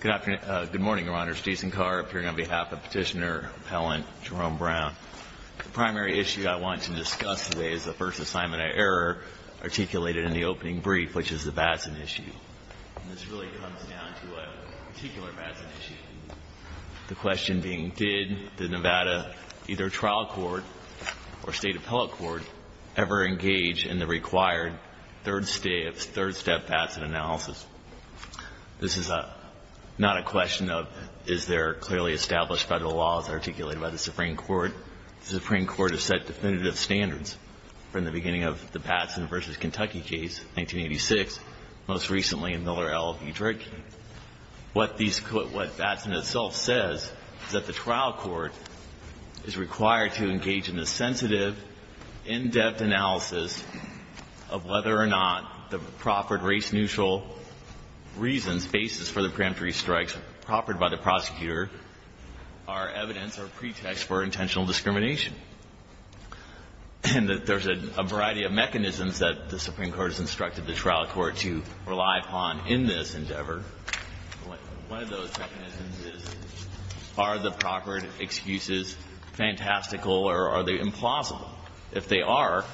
Good morning, Your Honors. Jason Carr, appearing on behalf of Petitioner Appellant Jerome Brown. The primary issue I want to discuss today is the first assignment of error articulated in the opening brief, which is the Batson issue. And this really comes down to a particular Batson issue. The question being, did the Nevada either trial court or state appellate court ever engage in the required third-step Batson analysis? This is not a question of, is there clearly established federal laws articulated by the Supreme Court? The Supreme Court has set definitive standards from the beginning of the Batson v. Kentucky case, 1986, most recently in Miller, L. Edrick. What these could – what Batson itself says is that the trial court is required to engage in the sensitive, in-depth analysis of whether or not the proffered race-neutral reasons, basis for the preemptory strikes proffered by the prosecutor are evidence or pretext for intentional discrimination. And that there's a variety of mechanisms that the Supreme Court has instructed the trial court to rely upon in this endeavor. One of those mechanisms is, are the proffered excuses fantastical or are they implausible? If they are,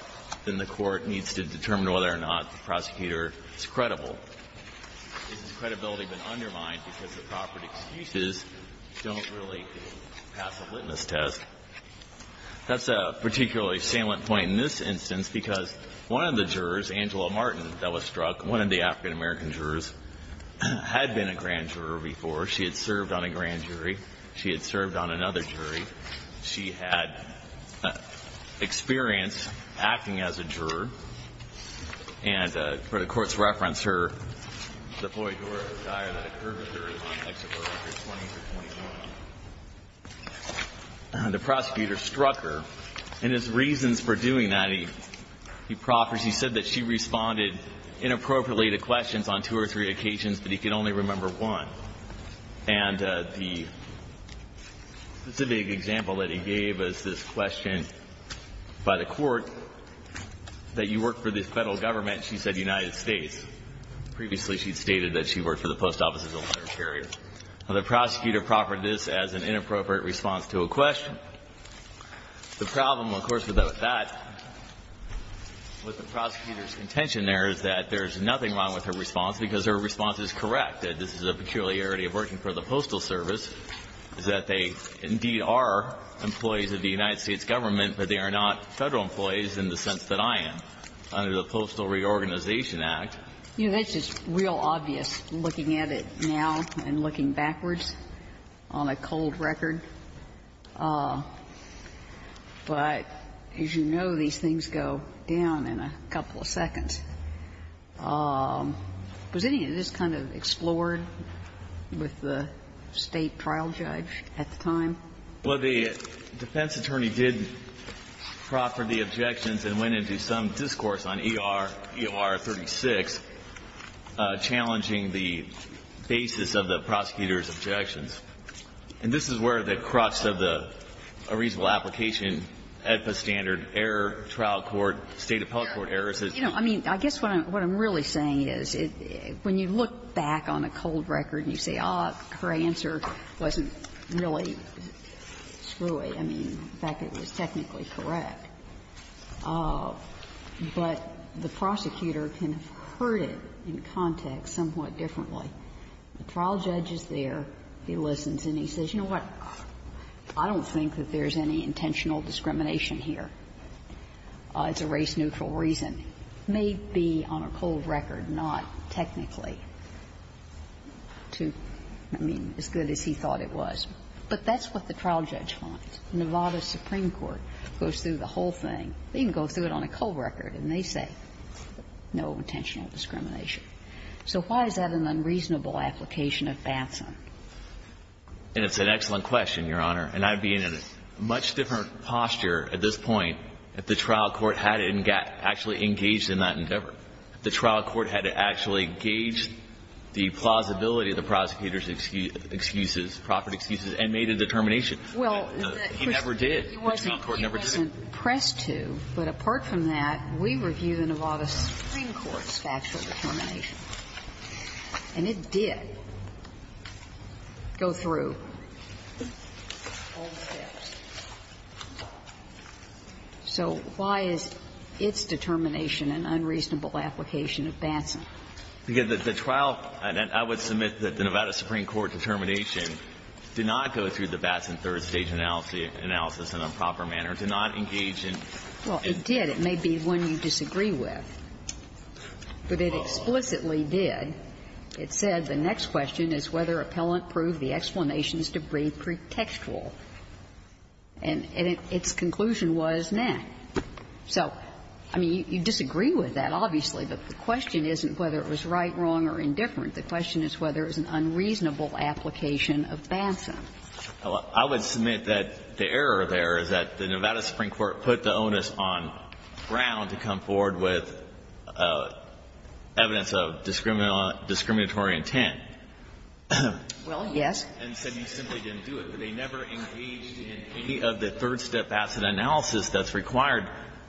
then the court needs to determine whether or not the prosecutor is credible. Has credibility been undermined because the proffered excuses don't really pass the witness test? That's a particularly salient point in this instance because one of the jurors, Angela Martin, that was struck, one of the African-American jurors, had been a grand juror before. She had served on a grand jury. She had served on another jury. She had experience acting as a juror. And for the Court's reference, her – the ploy juror, the guy that accursed her in the context of her 20s or 21s. The prosecutor struck her, and his reasons for doing that, he proffers. He said that she responded inappropriately to questions on two or three occasions, but he could only remember one. And the specific example that he gave is this question by the Court that you work for the Federal Government, she said United States. Previously, she had stated that she worked for the Post Office of the Literary Area. The prosecutor proffered this as an inappropriate response to a question. The problem, of course, with that, with the prosecutor's contention there is that there's nothing wrong with her response because her response is correct, that this is a peculiarity of working for the Postal Service, is that they indeed are employees of the United States Government, but they are not Federal employees in the sense that I am, under the Postal Reorganization Act. You know, that's just real obvious looking at it now and looking backwards on a cold record, but as you know, these things go down in a couple of seconds. Was any of this kind of explored with the State trial judge at the time? Well, the defense attorney did proffer the objections and went into some discourse on E.R., E.R. 36, challenging the basis of the prosecutor's objections. And this is where the crux of the reasonable application, AEDPA standard, error, trial court, State appellate court error, is that you don't need to do that. I mean, I guess what I'm really saying is, when you look back on a cold record and you say, oh, her answer wasn't really screwy, I mean, in fact, it was technically correct, but the prosecutor can have heard it in context somewhat differently. The trial judge is there, he listens, and he says, you know what, I don't think that there's any intentional discrimination here. It's a race-neutral reason. Maybe on a cold record, not technically to, I mean, as good as he thought it was. But that's what the trial judge finds. Nevada Supreme Court goes through the whole thing. They can go through it on a cold record and they say, no intentional discrimination. So why is that an unreasonable application of Batson? And it's an excellent question, Your Honor. And I'd be in a much different posture at this point if the trial court had actually engaged in that endeavor, if the trial court had actually engaged the plausibility of the prosecutor's excuses, proffered excuses, and made a determination. He never did. The trial court never did. He wasn't pressed to, but apart from that, we review the Nevada Supreme Court's actual determination. And it did go through all the steps. So why is its determination an unreasonable application of Batson? Because the trial – and I would submit that the Nevada Supreme Court determination did not go through the Batson third-stage analysis in a proper manner, did not engage in – Well, it did. It may be one you disagree with. But it explicitly did. It said the next question is whether appellant proved the explanations to be pretextual. And its conclusion was, nah. So, I mean, you disagree with that, obviously, but the question isn't whether it was right, wrong, or indifferent. The question is whether it was an unreasonable application of Batson. I would submit that the error there is that the Nevada Supreme Court put the onus on Brown to come forward with evidence of discriminatory intent. Well, yes. And said you simply didn't do it. But they never engaged in any of the third-step Batson analysis that's required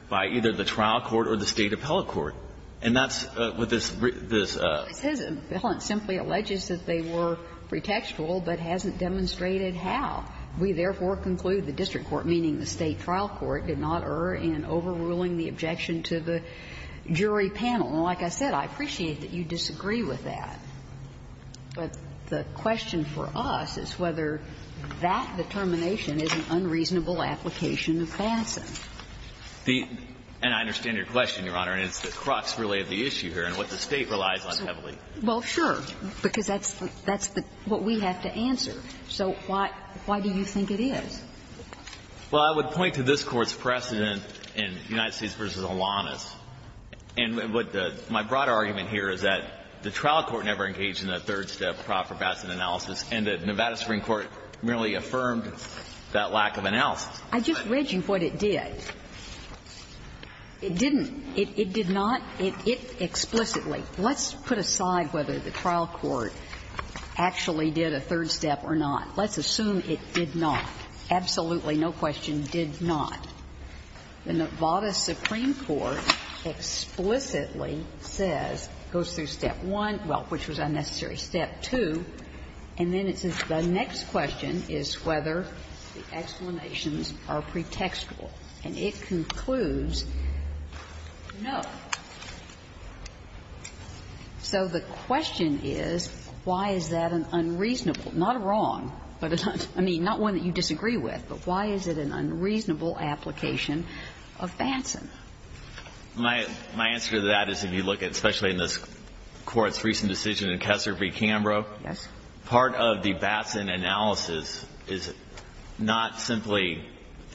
by either the trial court or the State appellate court. And that's what this – this – Well, it says appellant simply alleges that they were pretextual, but hasn't demonstrated how. We, therefore, conclude the district court, meaning the State trial court, did not err in overruling the objection to the jury panel. And like I said, I appreciate that you disagree with that. But the question for us is whether that determination is an unreasonable application of Batson. The – and I understand your question, Your Honor, and it's the crux, really, of the issue here and what the State relies on heavily. Well, sure, because that's the – that's what we have to answer. So why – why do you think it is? Well, I would point to this Court's precedent in United States v. Holanis. And what the – my broad argument here is that the trial court never engaged in a third-step proper Batson analysis, and the Nevada Supreme Court merely affirmed that lack of analysis. I just read you what it did. It didn't – it did not – it explicitly – let's put aside whether the trial court actually did a third step or not. Let's assume it did not. Absolutely, no question, did not. The Nevada Supreme Court explicitly says, goes through step one, well, which was unnecessary, step two, and then it says the next question is whether the explanations are pretextual. And it concludes no. So the question is, why is that an unreasonable – not wrong, but it's not – I mean, not one that you disagree with, but why is it an unreasonable application of Batson? My – my answer to that is if you look at, especially in this Court's recent decision in Kessler v. Cambrough, part of the Batson analysis is not simply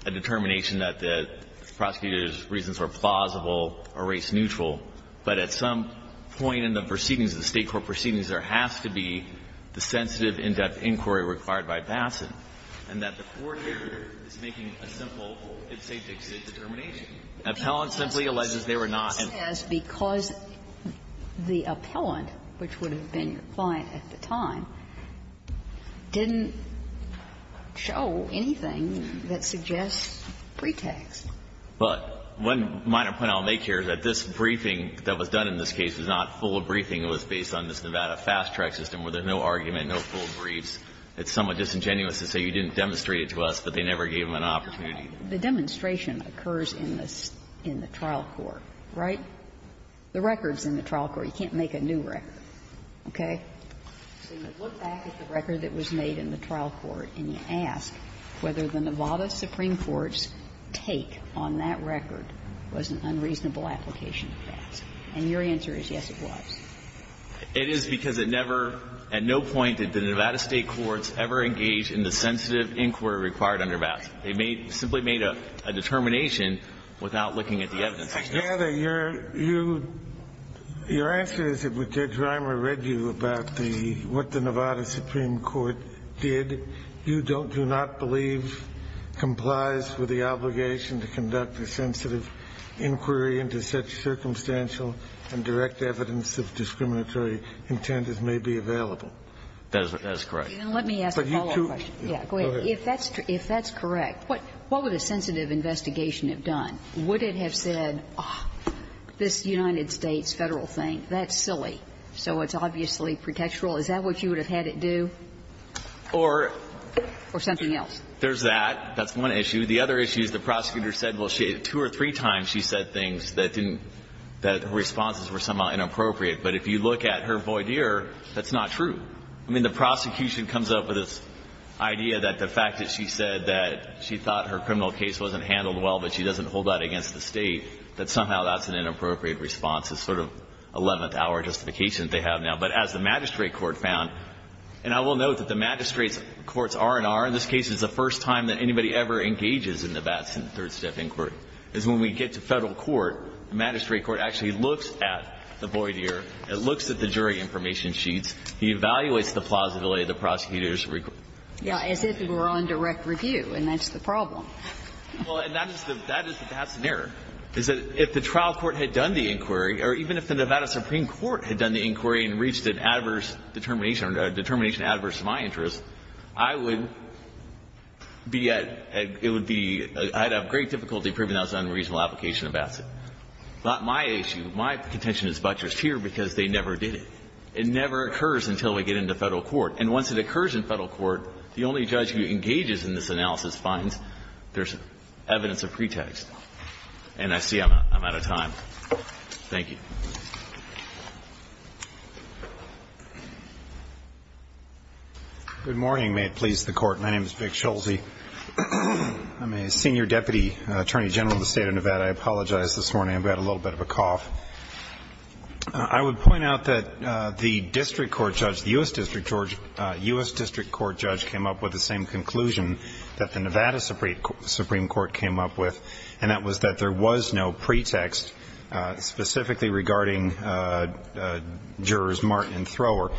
a determination that the prosecutor's reasons were plausible or race-neutral, but at some point in the proceedings, the State court proceedings, there has to be the sensitive in-depth inquiry required by Batson, and that the court here is making a simple if-safe-dict-state determination. Appellant simply alleges they were not in the case. Kagan, because the appellant, which would have been your client at the time, didn't show anything that suggests pretext. But one minor point I'll make here is that this briefing that was done in this case was not full of briefing. It was based on this Nevada fast-track system where there's no argument, no full briefs. It's somewhat disingenuous to say you didn't demonstrate it to us, but they never gave them an opportunity. The demonstration occurs in the trial court, right? The record's in the trial court. You can't make a new record, okay? So you look back at the record that was made in the trial court and you ask whether the Nevada supreme court's take on that record was an unreasonable application of facts. And your answer is yes, it was. It is because it never, at no point did the Nevada State courts ever engage in the sensitive inquiry required under Batson. They made, simply made a determination without looking at the evidence. Kennedy, your answer is that when Judge Reimer read you about the, what the Nevada supreme court did, you don't, do not believe complies with the obligation to conduct a sensitive inquiry into such circumstantial and direct evidence of discriminatory intent as may be available. That is correct. Let me ask a follow-up question. Go ahead. If that's correct, what would a sensitive investigation have done? Would it have said, oh, this United States Federal thing, that's silly. So it's obviously pretextual. Is that what you would have had it do? Or something else? There's that. That's one issue. The other issue is the prosecutor said, well, two or three times she said things that didn't, that her responses were somehow inappropriate. But if you look at her void year, that's not true. I mean, the prosecution comes up with this idea that the fact that she said that she thought her criminal case wasn't handled well, but she doesn't hold that against the State, that somehow that's an inappropriate response. It's sort of 11th hour justification they have now. But as the magistrate court found, and I will note that the magistrate's courts R&R, and this case is the first time that anybody ever engages in the Batson third step inquiry, is when we get to Federal court, the magistrate court actually looks at the void year, it looks at the jury information sheets, it evaluates the plausibility of the prosecutor's request. Yeah, as if it were on direct review, and that's the problem. Well, and that is the Batson error, is that if the trial court had done the inquiry or even if the Nevada Supreme Court had done the inquiry and reached an adverse determination, a determination adverse to my interests, I would be at, it would be, I'd have great difficulty proving that was an unreasonable application of Batson. It's not my issue. My contention is butchers here because they never did it. It never occurs until we get into Federal court. And once it occurs in Federal court, the only judge who engages in this analysis finds there's evidence of pretext. And I see I'm out. I'm out of time. Thank you. Good morning. May it please the Court. My name is Vic Schulze. I'm a senior deputy attorney general in the State of Nevada. I apologize this morning. I've got a little bit of a cough. I would point out that the district court judge, the U.S. district court judge came up with the same conclusion that the Nevada Supreme Court came up with, and that was that there was no pretext specifically regarding jurors Martin and Thrower.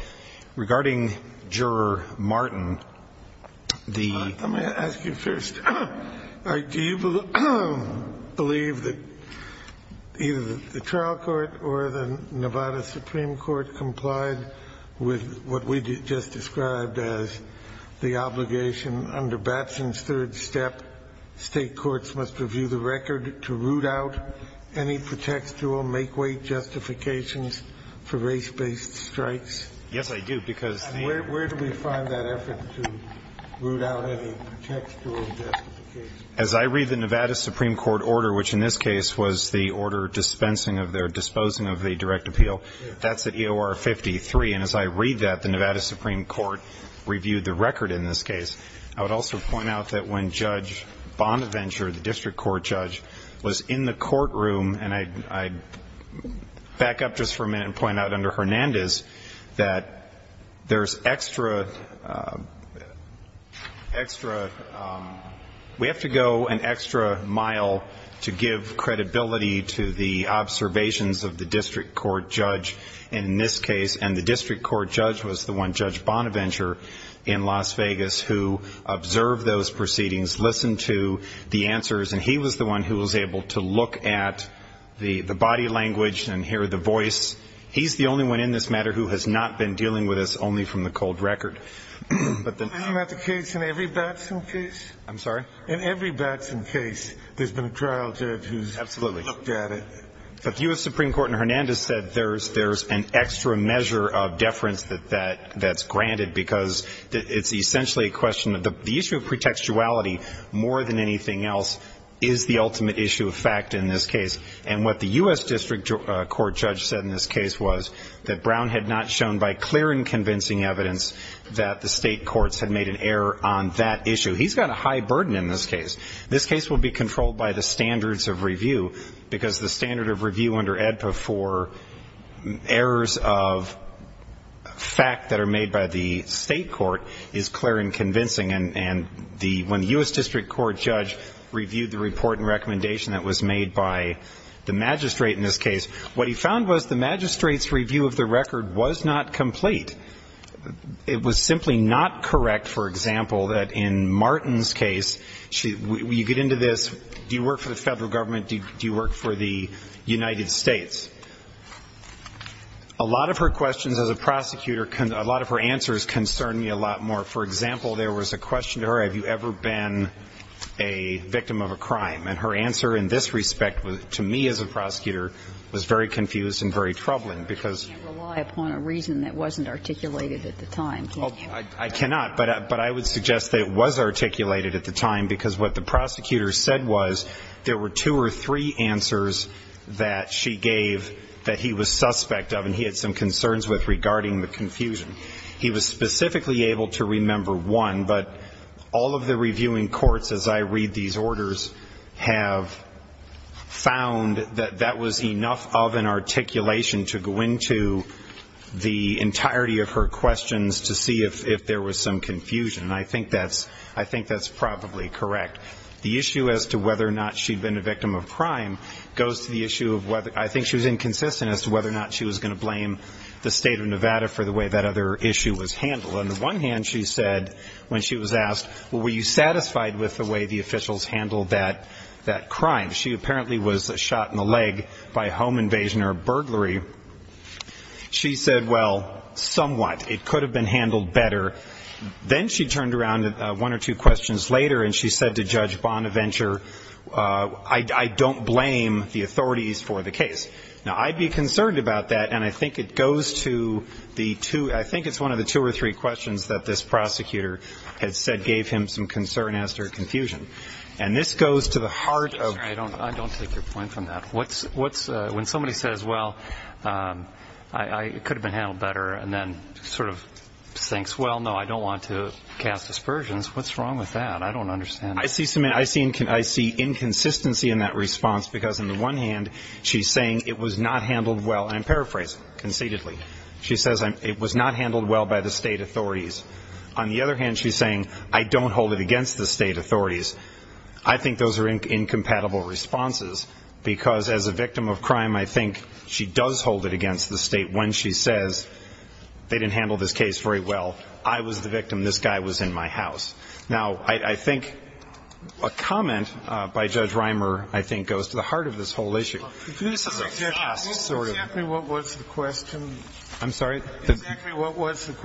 Regarding juror Martin, the Let me ask you first. Do you believe that either the trial court or the Nevada Supreme Court complied with what we just described as the obligation under Batson's third step? State courts must review the record to root out any pretextual make-wait justifications for race-based strikes? Yes, I do, because Where do we find that effort to root out any pretextual justifications? As I read the Nevada Supreme Court order, which in this case was the order disposing of the direct appeal, that's at EOR 53, and as I read that, the Nevada Supreme Court reviewed the record in this case. I would also point out that when Judge Bonaventure, the district court judge, was in the courtroom, and I back up just for a minute and point out under Hernandez that there's extra, we have to go an extra mile to give credibility to the observations of the district court judge in this case, and the district court judge was the one, Judge Bonaventure in Las Vegas, who observed those proceedings, listened to the answers, and he was the one who was able to look at the body language and hear the voice. He's the only one in this matter who has not been dealing with this only from the cold record. Isn't that the case in every Batson case? I'm sorry? In every Batson case, there's been a trial judge who's looked at it. But the U.S. Supreme Court in Hernandez said there's an extra measure of deference that's granted because it's essentially a question of, the issue of pretextuality, more than anything else, is the ultimate issue of fact in this case. And what the U.S. district court judge said in this case was that Brown had not shown by clear and convincing evidence that the state courts had made an error on that issue. He's got a high burden in this case. This case will be controlled by the standards of review because the standard of review under AEDPA for errors of fact that are made by the state court is clear and convincing. And when the U.S. district court judge reviewed the report and recommendation that was made by the magistrate in this case, what he found was the magistrate's review of the record was not complete. It was simply not correct, for example, that in Martin's case, you get into this, do you work for the federal government, do you work for the United States? A lot of her questions as a prosecutor, a lot of her answers concern me a lot more. For example, there was a question to her, have you ever been a victim of a crime? And her answer in this respect, to me as a prosecutor, was very confused and very troubling because... But you can't rely upon a reason that wasn't articulated at the time, can you? I cannot, but I would suggest that it was articulated at the time because what the prosecutor said was there were two or three answers that she gave that he was suspect of and he had some concerns with regarding the confusion. He was specifically able to remember one, but all of the reviewing courts, as I read these orders, have found that that was enough of an articulation to go into the entirety of her questions to see if there was some confusion. And I think that's probably correct. The issue as to whether or not she'd been a victim of a crime goes to the issue of whether... I think she was inconsistent as to whether or not she was going to blame the state of Nevada for the way that other issue was handled. On the one hand, she said, when she was asked, were you satisfied with the way the officials handled that crime? She apparently was shot in the leg by a home invasion or a burglary. She said, well, somewhat. It could have been handled better. Then she turned around one or two questions later and she said to Judge Bonaventure, I don't blame the authorities for the case. Now, I'd be concerned about that and I think it goes to the two... the two questions that this prosecutor had said gave him some concern as to her confusion. And this goes to the heart of... I don't take your point from that. When somebody says, well, it could have been handled better and then sort of thinks, well, no, I don't want to cast aspersions, what's wrong with that? I don't understand. I see inconsistency in that response because on the one hand she's saying it was not handled well and I'm paraphrasing conceitedly. She says it was not handled well by the state authorities. On the other hand, she's saying I don't hold it against the state authorities. I think those are incompatible responses because as a victim of crime I think she does hold it against the state when she says they didn't handle this case very well. I was the victim. This guy was in my house. Now, I think a comment by Judge Reimer I think goes to the heart of this whole issue. This is a fast sort of... What was the question? I'm sorry? The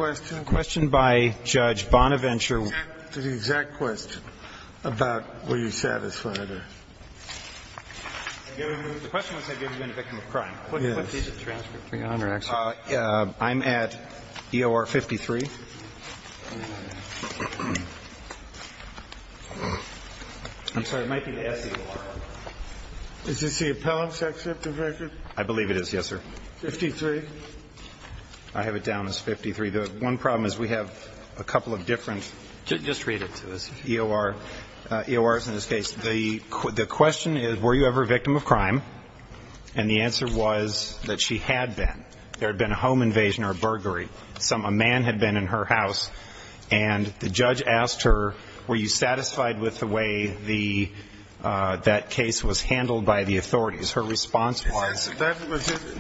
question by Judge Bonaventure to the exact question about were you satisfied or... The question was have you ever been a victim of crime? Yes. I'm at EOR 53. I'm sorry, it might be the SEOR. Is this the appellant section of the record? I believe it is, yes, sir. 53? I have it down as 53. One problem is we have a couple of different EORs in this case. The question is were you ever a victim of crime? And the answer was that she had been. There had been a home invasion or a burglary. A man had been in her house and the judge asked her were you satisfied with the way that case was handled by the authorities? Her response was...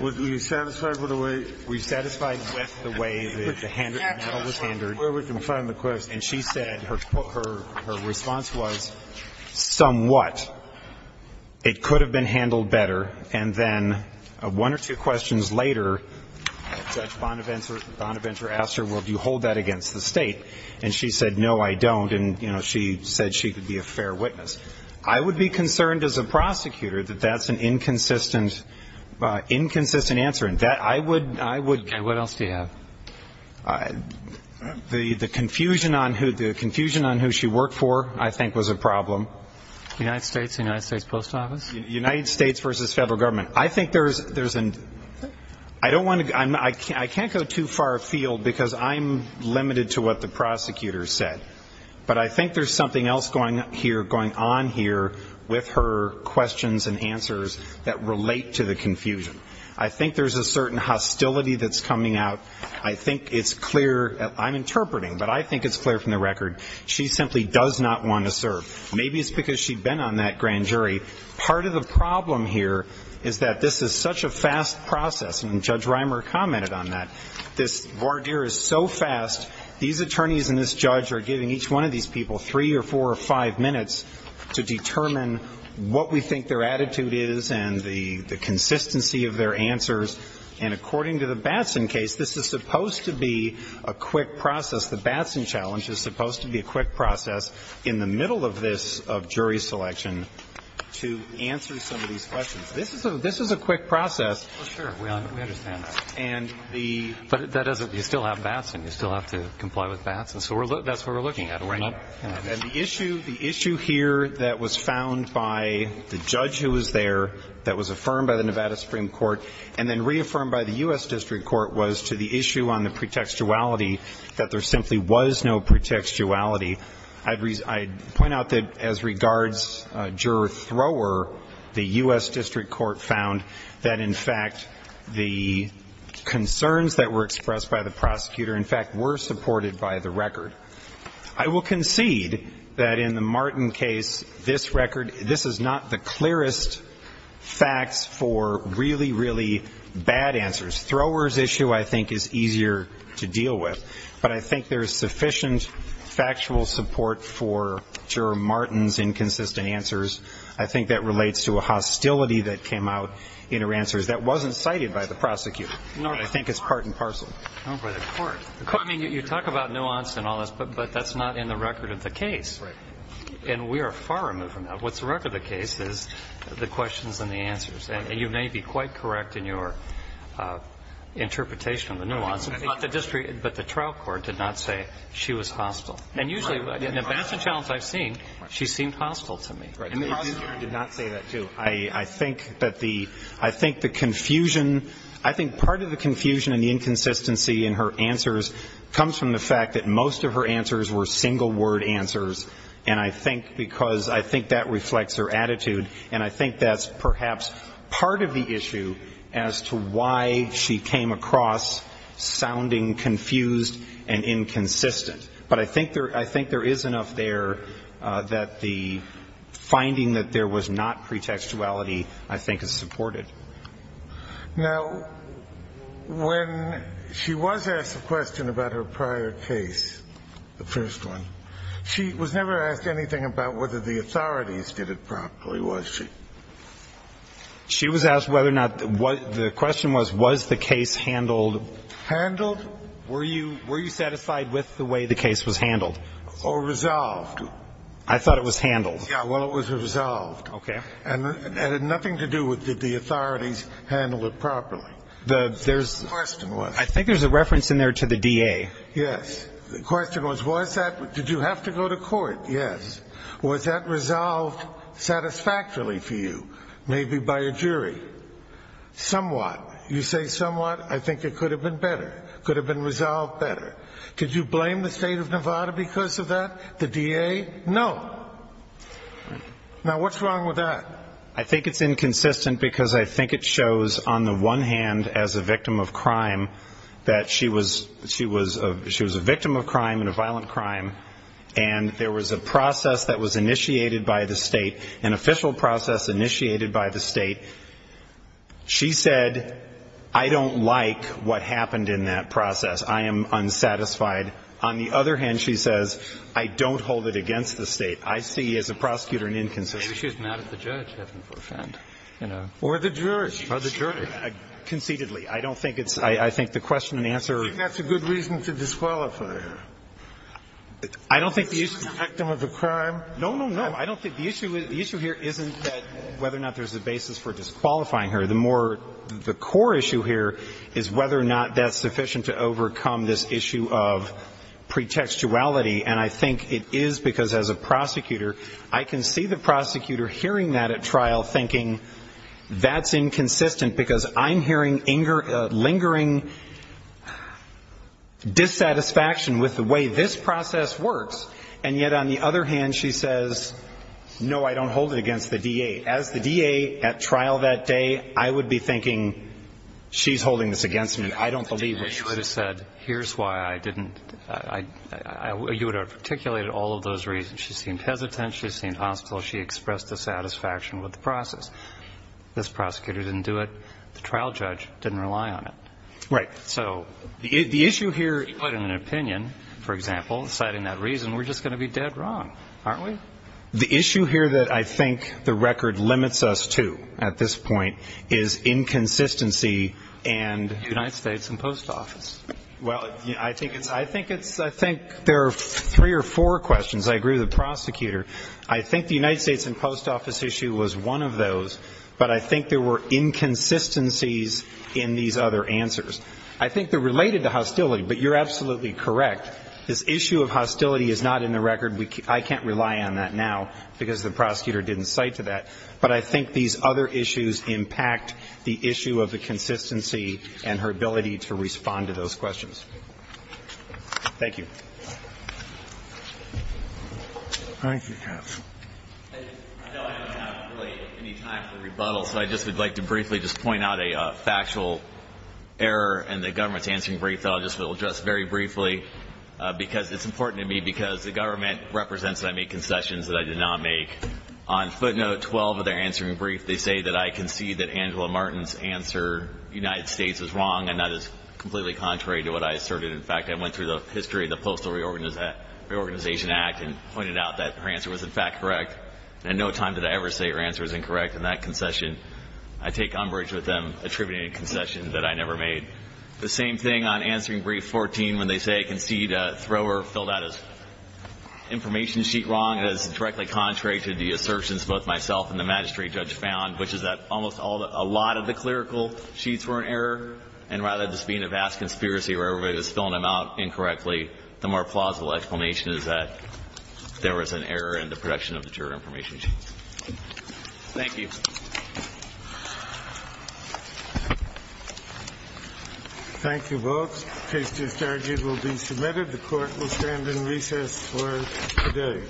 Were you satisfied with the way... We were satisfied with the way the handle was handled. And she said her response was somewhat. It could have been handled better and then one or two questions later Judge Bonaventure asked her do you hold that against the state? And she said no, I don't. She said she could be a fair witness. I would be concerned as a prosecutor that that's an inconsistent answer. I would... And what else do you have? The confusion on who she worked for I think was a problem. United States, United States Post Office? United States versus Federal Government. I think there's... I can't go too far afield because I'm limited to what the prosecutor said. But I think there's something else going on here with her questions and answers that relate to the confusion. I think there's a certain hostility that's coming out. I think it's clear I'm interpreting, but I think it's clear from the record she simply does not want to serve. Maybe it's because she'd been on that grand jury. Part of the problem here is that this is such a fast process and Judge Reimer commented on that this voir dire is so fast these attorneys and this judge are giving each one of these people three or four or five minutes to determine what we think their attitude is and the consistency of their answers. And according to the Batson case, this is supposed to be a quick process. The Batson challenge is supposed to be a quick process in the middle of this jury selection to answer some of these questions. This is a quick process. Sure, we understand that. But you still have Batson you still have to comply with Batson so that's what we're looking at. The issue here that was found by the judge who was there, that was affirmed by the Nevada Supreme Court and then reaffirmed by the U.S. District Court was to the issue on the pretextuality that there simply was no pretextuality I'd point out that as regards juror thrower, the U.S. District Court found that in fact the concerns that were expressed by the prosecutor in fact were supported by the record. I will concede that in the Martin case, this record this is not the clearest facts for really really bad answers. Thrower's issue I think is easier to deal with. But I think there's sufficient factual support for juror Martin's inconsistent answers. I think that relates to a hostility that came out in her answers that wasn't cited by the prosecutor. I think it's part and parcel. You talk about nuance and all this but that's not in the record of the case. And we are far removed from that. What's the record of the case is the questions and the answers. And you may be quite correct in your interpretation of the nuance but the trial court did not say she was hostile. And usually in the Batson challenge I've seen, she seemed hostile to me. And the prosecutor did not say that too. I think that the confusion I think part of the confusion and the inconsistency in her answers comes from the fact that most of her answers were single word answers. And I think because I think that reflects her attitude and I think that's perhaps part of the issue as to why she came across sounding confused and inconsistent. But I think there is enough there that the finding that there was not pretextuality I think is supported. Now when she was asked a question about her prior case, the first one, she was never asked anything about whether the authorities did it properly, was she? She was asked whether or not the question was, was the case handled. Handled? Were you satisfied with the way the case was handled? Or resolved? I thought it was handled. Yeah, well it was resolved. Okay. And it had nothing to do with did the authorities handle it properly. The question was. I think there's a reference in there to the DA. Yes. The question was, was that did you have to go to court? Yes. Was that resolved satisfactorily for you? Maybe by a jury? Somewhat. You say somewhat. I think it could have been better. Could have been better. Was the DA not satisfied? No. Now what's wrong with that? I think it's inconsistent because I think it shows on the one hand as a victim of crime that she was a victim of crime and a violent crime and there was a process that was initiated by the state, an official process initiated by the state. She said I don't like what happened in that process. I am unsatisfied. On the other hand, she says I don't hold it against the state. I see as a prosecutor an inconsistency. Maybe she was mad at the judge for having to offend. Or the jury. Conceitedly. I don't think it's I think the question and answer. I think that's a good reason to disqualify her. I don't think the issue Victim of a crime. No, no, no. I don't think the issue here isn't whether or not there's a basis for disqualifying her. The more, the core issue here is whether or not that's sufficient to overcome this issue of pretextuality and I think it is because as a prosecutor, I can see the prosecutor hearing that at trial thinking that's inconsistent because I'm hearing lingering dissatisfaction with the way this process works. And yet on the other hand, she says no, I don't hold it against the D.A. As the D.A. at trial that day I would be thinking she's holding this against me. I don't believe what she would have said. Here's why I didn't. I you would have articulated all of those reasons. She seemed hesitant. She seemed hostile. She expressed dissatisfaction with the process. This prosecutor didn't do it. The trial judge didn't rely on it. Right. So the issue here. She put in an opinion for example, citing that reason, we're just going to be dead wrong, aren't we? The issue here that I think the record limits us to at this point is inconsistency and United States and post office. Well, I think there are three or four questions. I agree with the prosecutor. I think the United States and post office issue was one of those but I think there were inconsistencies in these other answers. I think they're related to hostility but you're absolutely correct. This issue of hostility is not in the record. I can't rely on that now because the prosecutor didn't cite to that but I think these other issues impact the issue of the consistency and her ability to respond to those questions. Thank you. Thank you, Jeff. I know I don't have really any time for rebuttals but I just would like to briefly just point out a factual error and the government's answering brief so I'll just very briefly because it's important to me because the government represents that I made concessions that I did not make. On footnote 12 of their answering brief, they say that I concede that Angela Martin's answer United States is wrong and that is completely contrary to what I asserted. In fact, I went through the history of the Postal Reorganization Act and pointed out that her answer was in fact correct and no time did I ever say her answer was incorrect in that concession. I take umbrage with them attributing a concession that I never made. The same thing on answering brief 14 when they say I concede Thrower filled out his information sheet wrong is directly contrary to the assertions both myself and the magistrate judge found which is that almost all, a lot of the clerical sheets were an error and rather than this being a vast conspiracy where everybody is filling them out incorrectly, the more plausible explanation is that there was an error in the production of the juror information sheet. Thank you. Thank you folks. The case to be started will be submitted. The court will stand in recess for today.